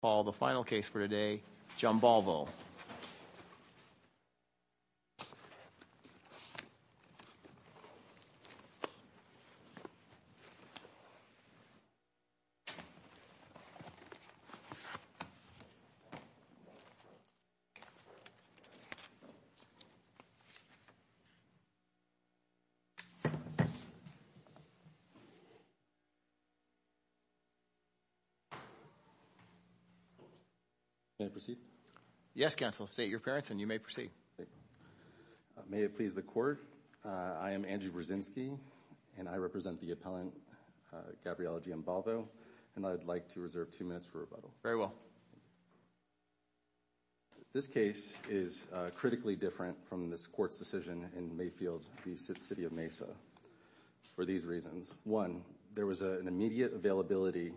Paul, the final case for today, Jambalvo. May I proceed? Yes, counsel. State your appearance and you may proceed. May it please the court. I am Andrew Brzezinski and I represent the appellant Gabriele Giambalvo and I'd like to reserve two minutes for rebuttal. Very well. This case is critically different from this court's decision in Mayfield v. City of Mesa for these reasons. One, there was an immediate availability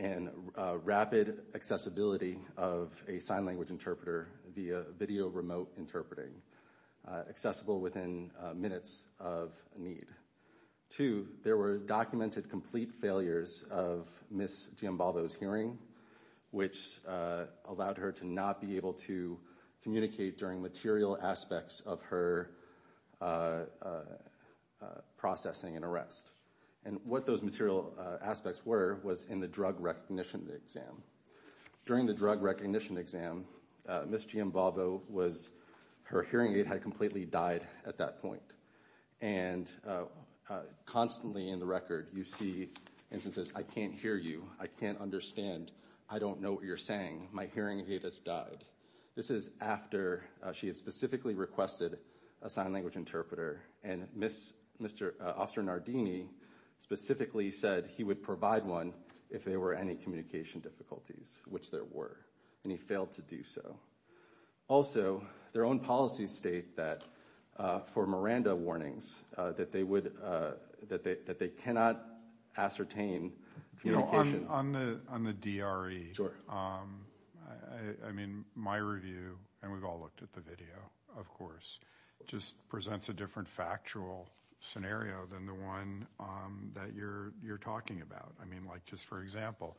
and rapid accessibility of a sign language interpreter via video remote interpreting accessible within minutes of need. Two, there were documented complete failures of Ms. Giambalvo's hearing which allowed her to not be able to communicate during material aspects of her processing and arrest and what those material aspects were was in the drug recognition exam. During the drug recognition exam, Ms. Giambalvo was, her hearing aid had completely died at that point and constantly in the record you see instances, I can't hear you, I can't understand, I don't know what you're saying, my hearing aid has died. This is after she had specifically requested a sign language interpreter and Mr. Oster Nardini specifically said he would provide one if there were any communication difficulties which there were and he failed to do so. Also, their own policies state that for Miranda warnings that they would, that they cannot ascertain communication. On the DRE, I mean my review and we've all looked at the video of course just presents a different factual scenario than the one that you're talking about. I mean like just for example,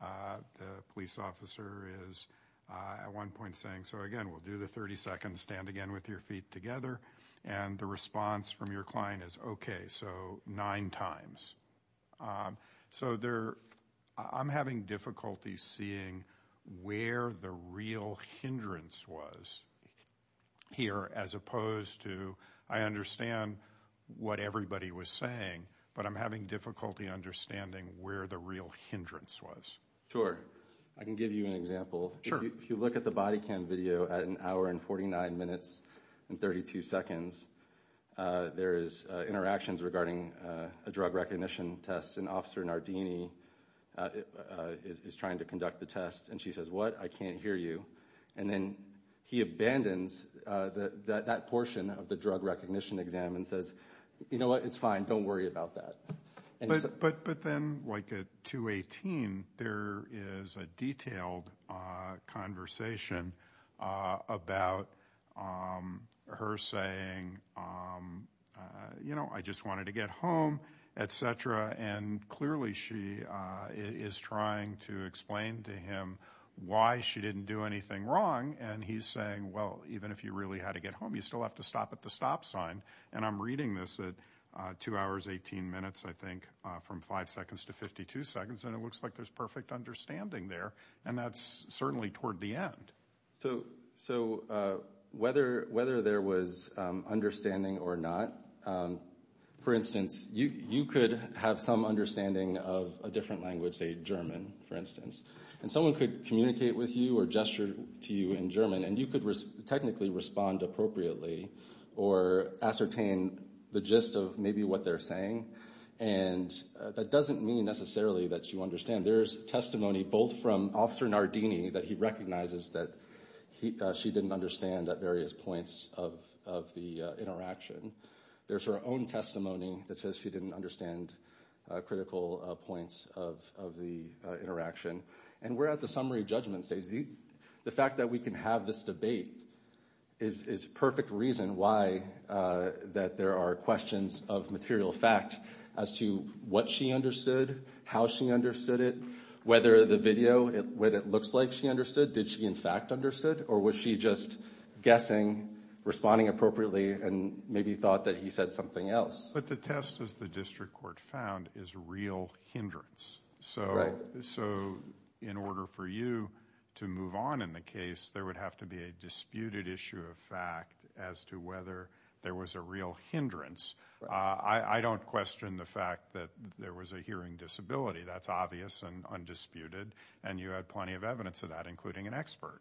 the police officer is at one point saying, so again we'll do the 30 seconds, stand again with your feet together and the response from your client is okay, so nine times. So there, I'm having difficulty seeing where the real hindrance was here as opposed to, I understand what everybody was saying but I'm having difficulty understanding where the real hindrance was. Sure, I can give you an example. Sure. If you look at the body cam video at an hour and 49 minutes and 32 seconds, there is interactions regarding a drug recognition test and Officer Nardini is trying to conduct the test and she says what, I can't hear you and then he abandons that portion of the drug recognition exam and says, you know what, it's fine, don't worry about that. But then like at 2-18, there is a detailed conversation about her saying, you know, I just wanted to get home, et cetera and clearly she is trying to explain to him why she didn't do anything wrong and he's saying, well, even if you really had to get home, you still have to stop at the stop sign and I'm reading this at 2 hours 18 minutes, I think, from 5 seconds to 52 seconds and it looks like there's perfect understanding there and that's certainly toward the end. So whether there was understanding or not, for instance, you could have some understanding of a different language, say German, for instance, and someone could communicate with you or gesture to you in German and you could technically respond appropriately or ascertain the gist of maybe what they're saying and that doesn't mean necessarily that you understand. There's testimony both from Officer Nardini that he recognizes that she didn't understand at various points of the interaction there's her own testimony that says she didn't understand critical points of the interaction and we're at the summary judgment stage. The fact that we can have this debate is perfect reason why that there are questions of material fact as to what she understood, how she understood it, whether the video, what it looks like she understood, did she in fact understood or was she just guessing, responding appropriately and maybe thought that he said something else? But the test as the district court found is real hindrance. So in order for you to move on in the case there would have to be a disputed issue of fact as to whether there was a real hindrance. I don't question the fact that there was a hearing disability. That's obvious and undisputed and you had plenty of evidence of that including an expert.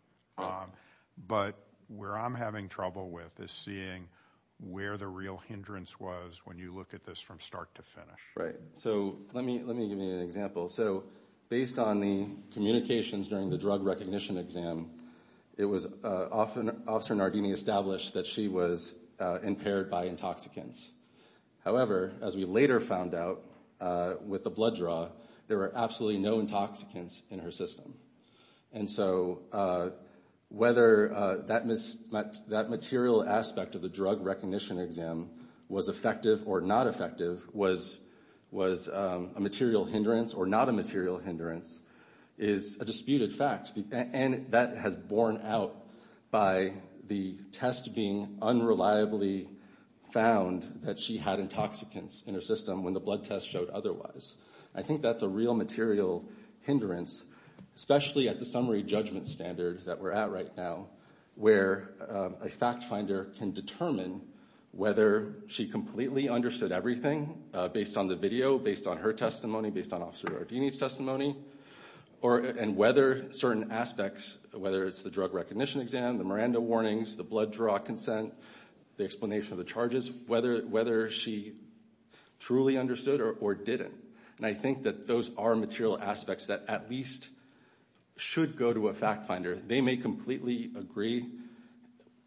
But where I'm having trouble with is seeing where the real hindrance was when you look at this from start to finish. Right. So let me give you an example. So based on the communications during the drug recognition exam it was Officer Nardini established that she was impaired by intoxicants. However, as we later found out with the blood draw there were absolutely no intoxicants in her system. And so whether that material aspect of the drug recognition exam was effective or not effective was a material hindrance or not a material hindrance is a disputed fact. And that has borne out by the test being unreliably found that she had intoxicants in her system when the blood test showed otherwise. I think that's a real material hindrance especially at the summary judgment standard that we're at right now where a fact finder can determine whether she completely understood everything based on the video, based on her testimony, based on Officer Nardini's testimony and whether certain aspects whether it's the drug recognition exam, the Miranda warnings, the blood draw consent, the explanation of the charges whether she truly understood or didn't. And I think that those are material aspects that at least should go to a fact finder. They may completely agree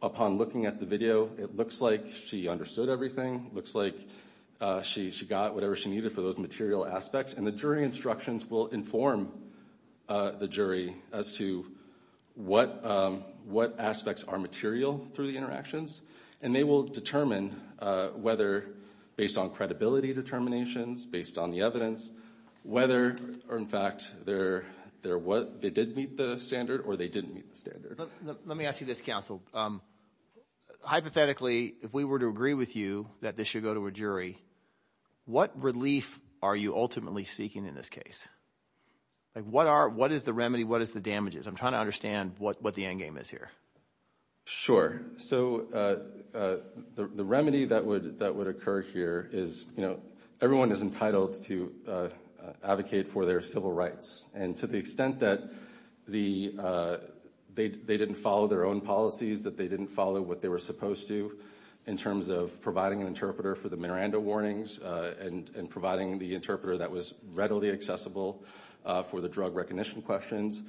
upon looking at the video it looks like she understood everything looks like she got whatever she needed for those material aspects and the jury instructions will inform the jury as to what aspects are material through the interactions and they will determine whether based on credibility determinations based on the evidence whether or in fact they did meet the standard or they didn't meet the standard. But let me ask you this, counsel. Hypothetically, if we were to agree with you that this should go to a jury what relief are you ultimately seeking in this case? Like what is the remedy? What is the damages? I'm trying to understand what the end game is here. Sure. So the remedy that would occur here is everyone is entitled to advocate for their civil rights and to the extent that they didn't follow their own policies that they didn't follow what they were supposed to in terms of providing an interpreter for the Miranda warnings and providing the interpreter that was readily accessible for the drug recognition questions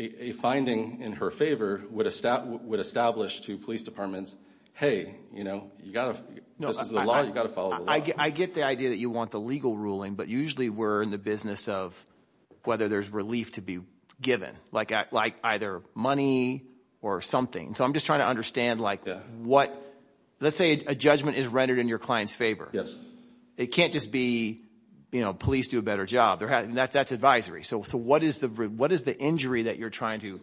a finding in her favor would establish to police departments hey, you know, this is the law, you got to follow the law. I get the idea that you want the legal ruling but usually we're in the business of whether there's relief to be given like either money or something. So I'm just trying to understand like what let's say a judgment is rendered in your client's favor. Yes. It can't just be, you know, police do a better job. That's advisory. So what is the injury that you're trying to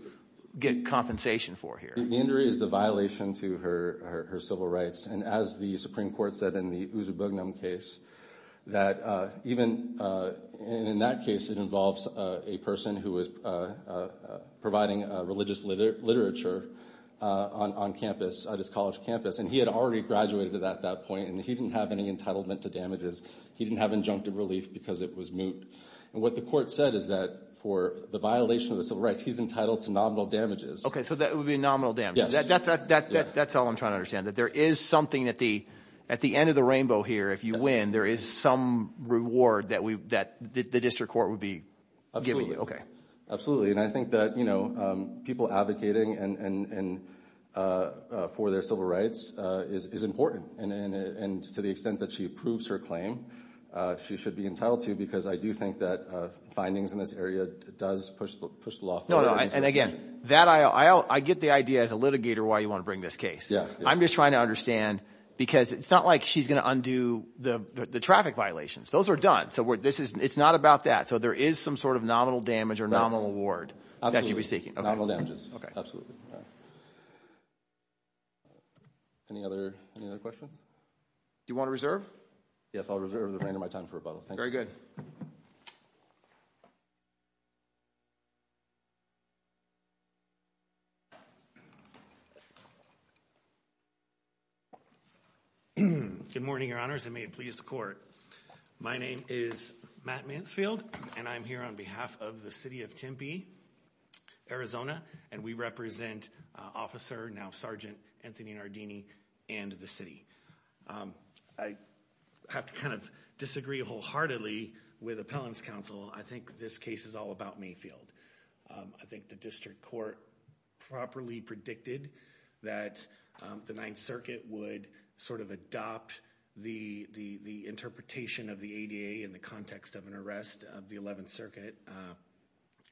get compensation for here? The injury is the violation to her civil rights and as the Supreme Court said in the Uzubugnum case that even in that case it involves a person who was providing religious literature on campus at his college campus and he had already graduated at that point and he didn't have any entitlement to damages. He didn't have injunctive relief because it was moot and what the court said is that for the violation of the civil rights he's entitled to nominal damages. Okay so that would be a nominal damage. That's all I'm trying to understand that there is something at the end of the rainbow here if you win there is some reward that the district court would be giving you. Absolutely and I think that, you know, people advocating for their civil rights is important and to the extent that she approves her claim she should be entitled to because I do think that findings in this area does push the law forward. And again, I get the idea as a litigator why you want to bring this case. I'm just trying to understand because it's not like she's going to undo the traffic violations. Those are done. So it's not about that. So there is some sort of nominal damage or nominal reward that she was seeking. Nominal damages, absolutely. Any other questions? Do you want to reserve? Yes, I'll reserve the remainder of my time for rebuttal. Thank you. Very good. Good morning, your honors and may it please the court. My name is Matt Mansfield and I'm here on behalf of the city of Tempe, Arizona and we represent Officer, now Sergeant, Anthony Nardini and the city. I have to kind of disagree wholeheartedly with appellant's counsel. I think this case is all about Mayfield. I think the district court properly predicted that the Ninth Circuit would sort of adopt the interpretation of the ADA in the context of an arrest of the Eleventh Circuit.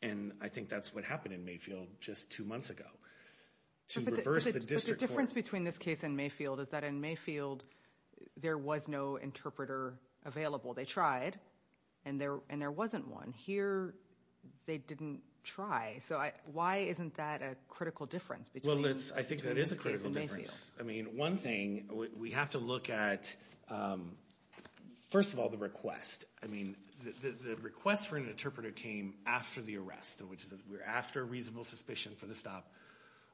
And I think that's what happened in Mayfield just two months ago. To reverse the district court. But the difference between this case and Mayfield is that in Mayfield, there was no interpreter available. They tried and there wasn't one. Here, they didn't try. So why isn't that a critical difference? Well, I think that is a critical difference. I mean, one thing, we have to look at, first of all, the request. I mean, the request for an interpreter came after the arrest, which is we're after reasonable suspicion for the stop,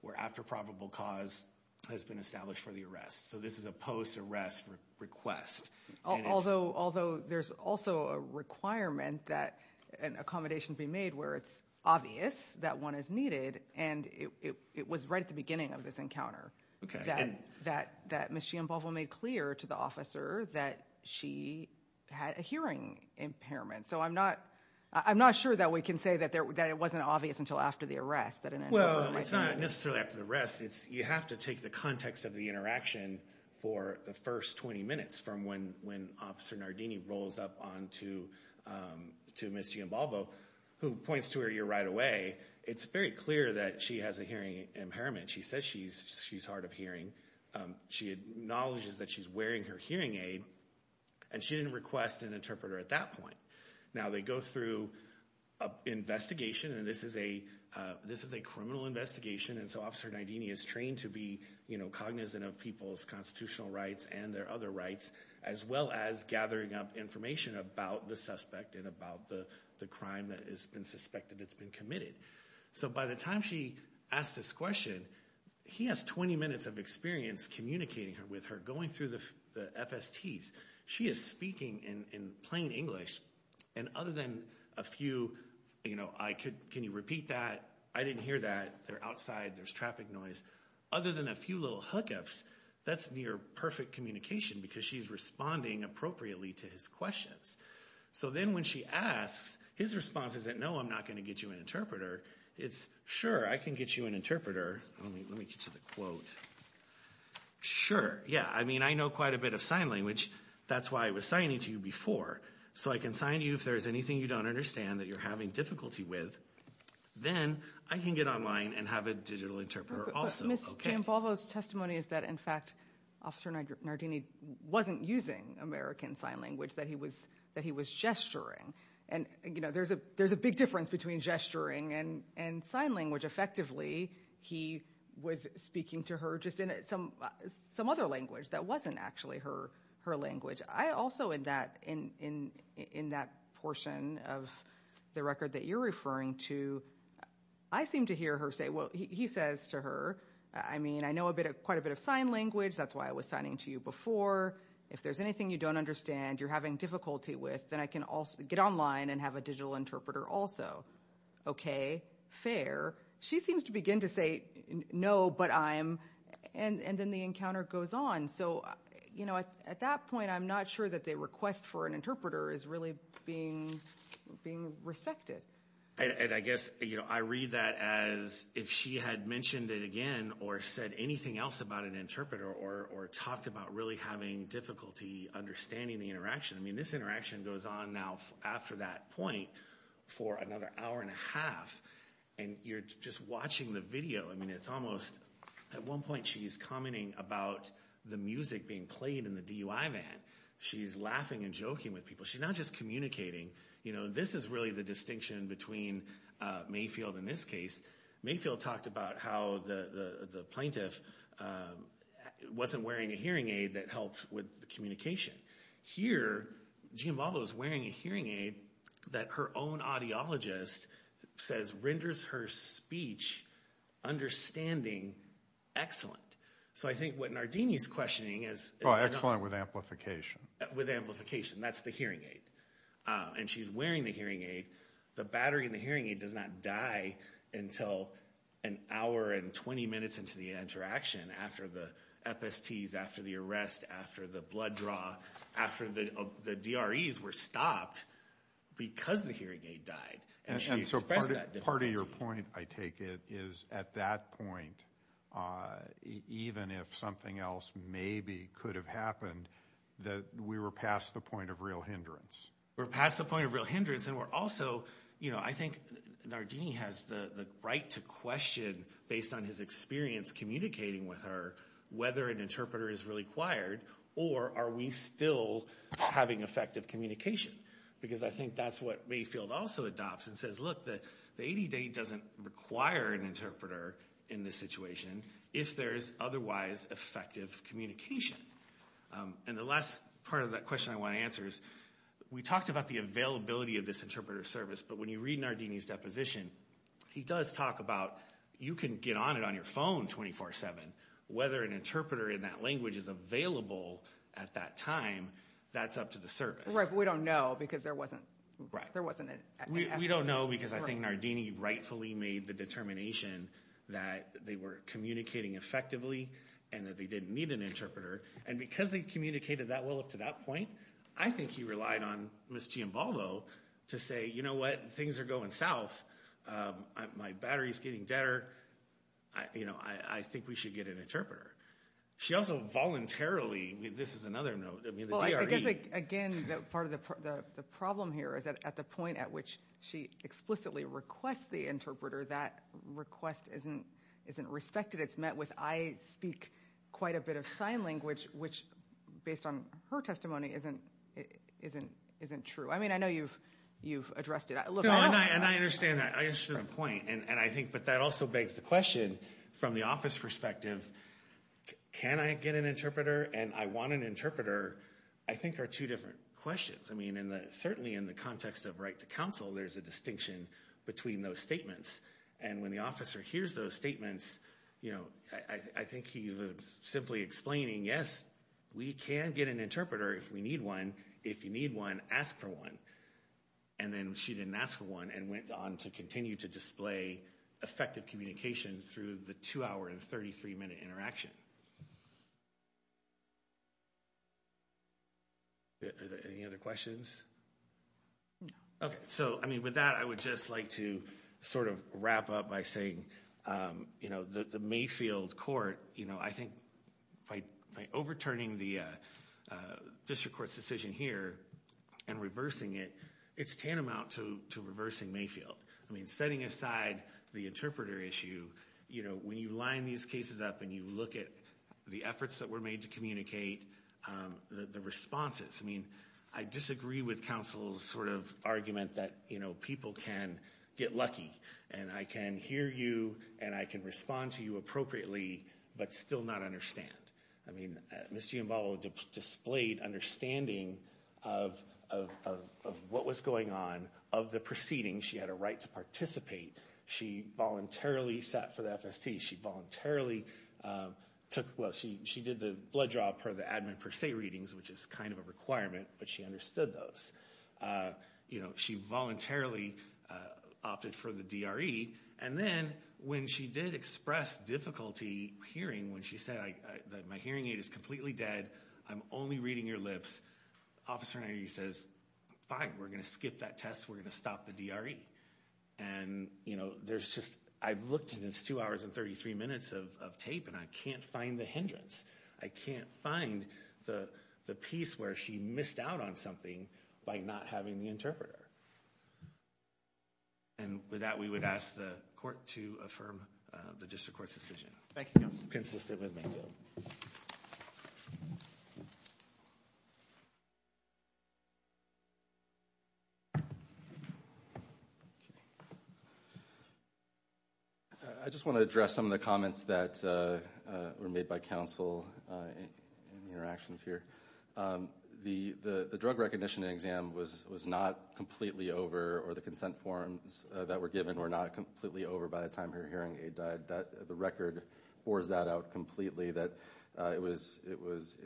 we're after probable cause has been established for the arrest. So this is a post-arrest request. Although there's also a requirement that an accommodation be made where it's obvious that one is needed. And it was right at the beginning of this encounter that Ms. Chiambovo made clear to the officer that she had a hearing impairment. So I'm not sure that we can say that it wasn't obvious until after the arrest. Well, it's not necessarily after the arrest. You have to take the context of the interaction for the first 20 minutes from when Officer Nardini rolls up to Ms. Chiambovo, who points to her ear right away. It's very clear that she has a hearing impairment. She says she's hard of hearing. She acknowledges that she's wearing her hearing aid, and she didn't request an interpreter at that point. Now, they go through an investigation, and this is a criminal investigation. And so Officer Nardini is trained to be cognizant of people's constitutional rights and their other rights, as well as gathering up information about the suspect and about the crime that has been suspected that's been committed. So by the time she asks this question, he has 20 minutes of experience communicating with her, going through the FSTs. She is speaking in plain English, and other than a few, you know, can you repeat that? I didn't hear that. They're outside. There's traffic noise. Other than a few little hookups, that's near perfect communication because she's responding appropriately to his questions. So then when she asks, his response is that, no, I'm not going to get you an interpreter. It's, sure, I can get you an interpreter. Let me get to the quote. Sure, yeah. I mean, I know quite a bit of sign language. That's why I was signing to you before. So I can sign to you if there's anything you don't understand that you're having difficulty with. Then I can get online and have a digital interpreter also. Ms. Giambalvo's testimony is that, in fact, Officer Nardini wasn't using American Sign Language, that he was gesturing. And, you know, there's a big difference between gesturing and sign language. Effectively, he was speaking to her just in some other language that wasn't actually her language. I also, in that portion of the record that you're referring to, I seem to hear her say, well, he says to her, I mean, I know quite a bit of sign language. That's why I was signing to you before. If there's anything you don't understand you're having difficulty with, then I can also get online and have a digital interpreter also. Okay, fair. She seems to begin to say, no, but I'm... And then the encounter goes on. So, you know, at that point, I'm not sure that the request for an interpreter is really being respected. And I guess, you know, I read that as if she had mentioned it again or said anything else about an interpreter or talked about really having difficulty understanding the interaction. I mean, this interaction goes on now after that point for another hour and a half. And you're just watching the video. I mean, it's almost, at one point she's commenting about the music being played in the DUI van. She's laughing and joking with people. She's not just communicating. You know, this is really the distinction between Mayfield in this case. Mayfield talked about how the plaintiff wasn't wearing a hearing aid that helped with the communication. Here, Gianvalo is wearing a hearing aid that her own audiologist says renders her speech understanding excellent. So I think what Nardini's questioning is... Oh, excellent with amplification. With amplification, that's the hearing aid. And she's wearing the hearing aid. The battery in the hearing aid does not die until an hour and 20 minutes into the interaction after the FSTs, after the arrest, after the blood draw, after the DREs were stopped because the hearing aid died. And she expressed that differently. Part of your point, I take it, is at that point, even if something else maybe could have happened, that we were past the point of real hindrance. We're past the point of real hindrance. And we're also, you know, I think Nardini has the right to question based on his experience communicating with her whether an interpreter is really required or are we still having effective communication because I think that's what Mayfield also adopts and says, look, the 80-day doesn't require an interpreter in this situation if there's otherwise effective communication. And the last part of that question I want to answer is we talked about the availability of this interpreter service, but when you read Nardini's deposition, he does talk about, you can get on it on your phone 24-7. Whether an interpreter in that language is available at that time, that's up to the service. Right, but we don't know because there wasn't... Right. There wasn't an actual... We don't know because I think Nardini rightfully made the determination that they were communicating effectively and that they didn't need an interpreter. And because they communicated that well up to that point, I think he relied on Ms. Giambaldo to say, you know what, things are going south. My battery's getting deader. I think we should get an interpreter. She also voluntarily... This is another note. I mean, the DRE... Again, part of the problem here is that at the point at which she explicitly requests the interpreter, that request isn't respected. It's met with, I speak quite a bit of sign language, which based on her testimony isn't true. I mean, I know you've addressed it. And I understand that. I understand the point. And I think, but that also begs the question from the office perspective, can I get an interpreter? And I want an interpreter, I think are two different questions. I mean, certainly in the context of right to counsel, there's a distinction between those statements. And when the officer hears those statements, I think he was simply explaining, yes, we can get an interpreter if we need one. If you need one, ask for one. And then she didn't ask for one and went on to continue to display effective communication through the two hour and 33 minute interaction. Any other questions? Okay. So, I mean, with that, I would just like to sort of wrap up by saying, you know, the Mayfield Court, you know, I think by overturning the district court's decision here and reversing it, it's tantamount to reversing Mayfield. I mean, setting aside the interpreter issue, you know, when you line these cases up and you look at the efforts that were made to communicate the responses, I mean, I disagree with counsel's sort of argument that, you know, people can get lucky and I can hear you and I can respond to you appropriately, but still not understand. I mean, Ms. Giamballo displayed understanding of what was going on of the proceedings. She had a right to participate. She voluntarily sat for the FST. She voluntarily took, well, she did the blood draw per the admin per se readings, which is kind of a requirement, but she understood those. You know, she voluntarily opted for the DRE. And then when she did express difficulty hearing when she said that my hearing aid is completely dead, I'm only reading your lips, officer says, fine, we're going to skip that test. We're going to stop the DRE. And, you know, there's just, I've looked at this two hours and 33 minutes of tape and I can't find the hindrance. I can't find the piece where she missed out on something by not having the interpreter. And with that, we would ask the court to affirm the district court's decision. Thank you, counsel. Consistent with me. I just want to address some of the comments that were made by counsel in the interactions here. The drug recognition exam was not completely over or the consent forms that were given were not completely over by the time her hearing aid died. The record pours that out completely that it was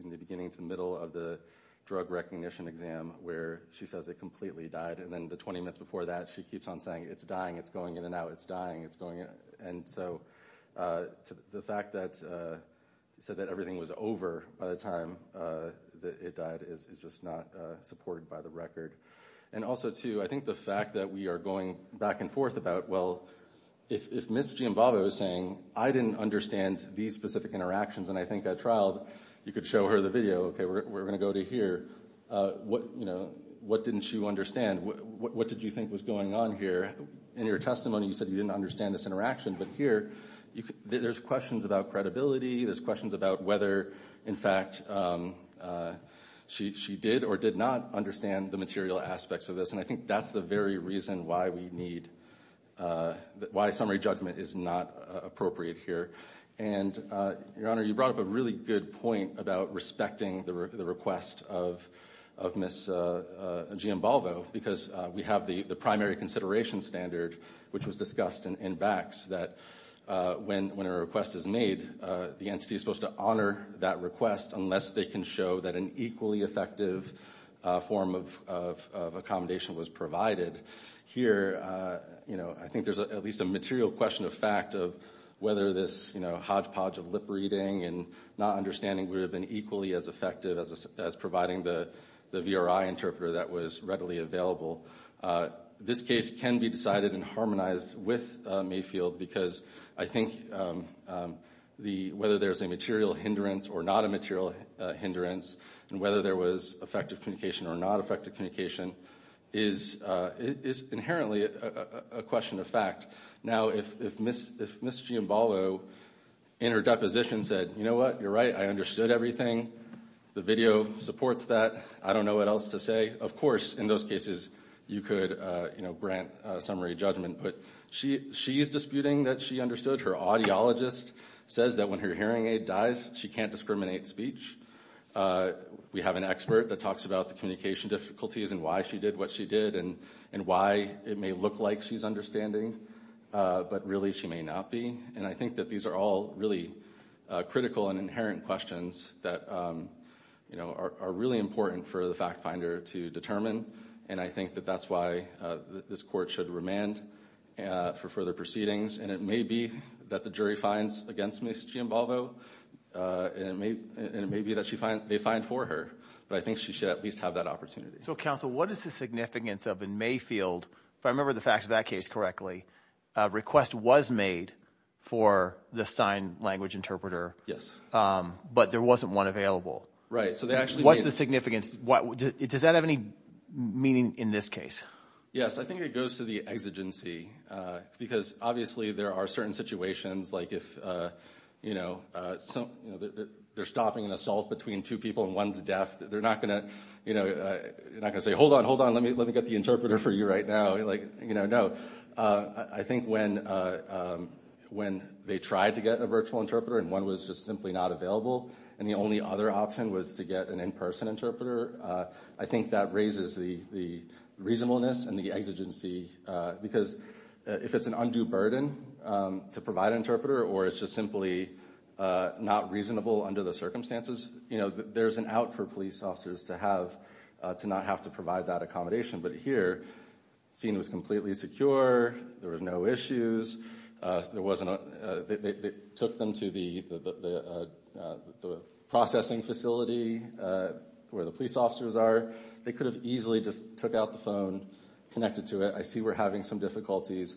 in the beginning to the middle of the drug recognition exam where she says it completely died. And then the 20 minutes before that, she keeps on saying it's dying, it's going in and out, it's dying, it's going in. And so the fact that said that everything was over by the time that it died is just not supported by the record. And also too, I think the fact that we are going back and forth about, well, if Ms. Giambava was saying, I didn't understand these specific interactions and I think at trial, you could show her the video. Okay, we're going to go to here. What didn't you understand? What did you think was going on here? In your testimony, you said you didn't understand this interaction. But here, there's questions about credibility. There's questions about whether, in fact, she did or did not understand the material aspects of this. And I think that's the very reason why we need why summary judgment is not appropriate here. And Your Honor, you brought up a really good point about respecting the request of Ms. Giambalvo because we have the primary consideration standard, which was discussed in BACS, that when a request is made, the entity is supposed to honor that request unless they can show that an equally effective form of accommodation was provided. Here, I think there's at least a material question of fact of whether this hodgepodge of lip reading and not understanding would have been equally as effective as providing the VRI interpreter that was readily available. This case can be decided and harmonized with Mayfield because I think whether there's a material hindrance or not a material hindrance and whether there was effective communication or not effective communication is inherently a question of fact. Now, if Ms. Giambalvo in her deposition said, you know what, you're right, I understood everything. The video supports that. I don't know what else to say. Of course, in those cases, you could grant summary judgment. But she's disputing that she understood. Her audiologist says that when her hearing aid dies, she can't discriminate speech. We have an expert that talks about the communication difficulties and why she did what she did and why it may look like she's understanding. But really, she may not be. And I think that these are all really critical and inherent questions that are really important for the fact finder to determine. And I think that that's why this court should remand for further proceedings. And it may be that the jury finds against Ms. Giambalvo and it may be that they find for her. But I think she should at least have that opportunity. So, counsel, what is the significance of in Mayfield, if I remember the facts of that case correctly, request was made for the sign language interpreter. Yes. But there wasn't one available. Right, so they actually... What's the significance? Does that have any meaning in this case? Yes, I think it goes to the exigency. Because obviously, there are certain situations like if they're stopping an assault between two people and one's deaf, they're not gonna say, hold on, hold on, let me get the interpreter for you right now. No, I think when they tried to get a virtual interpreter and one was just simply not available, and the only other option was to get an in-person interpreter, I think that raises the reasonableness and the exigency. Because if it's an undue burden to provide an interpreter, or it's just simply not reasonable under the circumstances, you know, there's an out for police officers to not have to provide that accommodation. But here, scene was completely secure. There was no issues. There wasn't, they took them to the processing facility where the police officers are. They could have easily just took out the phone, connected to it. I see we're having some difficulties.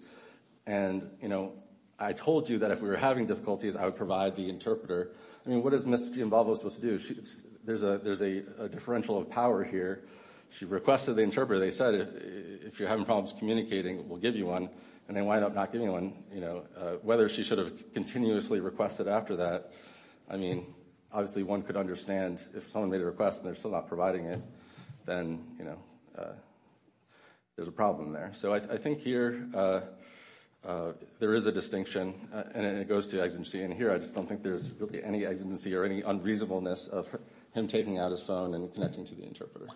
And, you know, I told you that if we were having difficulties, I would provide the interpreter. I mean, what is Ms. Giambalvo supposed to do? There's a differential of power here. She requested the interpreter. They said, if you're having problems communicating, we'll give you one. And they wind up not giving anyone, you know, whether she should have continuously requested after that. I mean, obviously, one could understand if someone made a request and they're still not providing it, then, you know, there's a problem there. So I think here there is a distinction and it goes to exigency. And here, I just don't think there's really any exigency or any unreasonableness of him taking out his phone and connecting to the interpreter.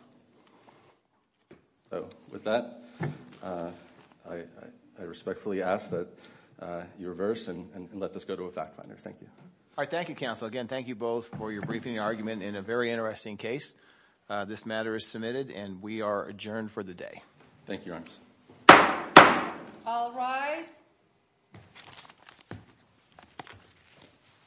So with that, I respectfully ask that you reverse and let this go to a fact finder. Thank you. All right. Thank you, counsel. Again, thank you both for your briefing argument in a very interesting case. This matter is submitted and we are adjourned for the day. Thank you, Your Honor. All rise.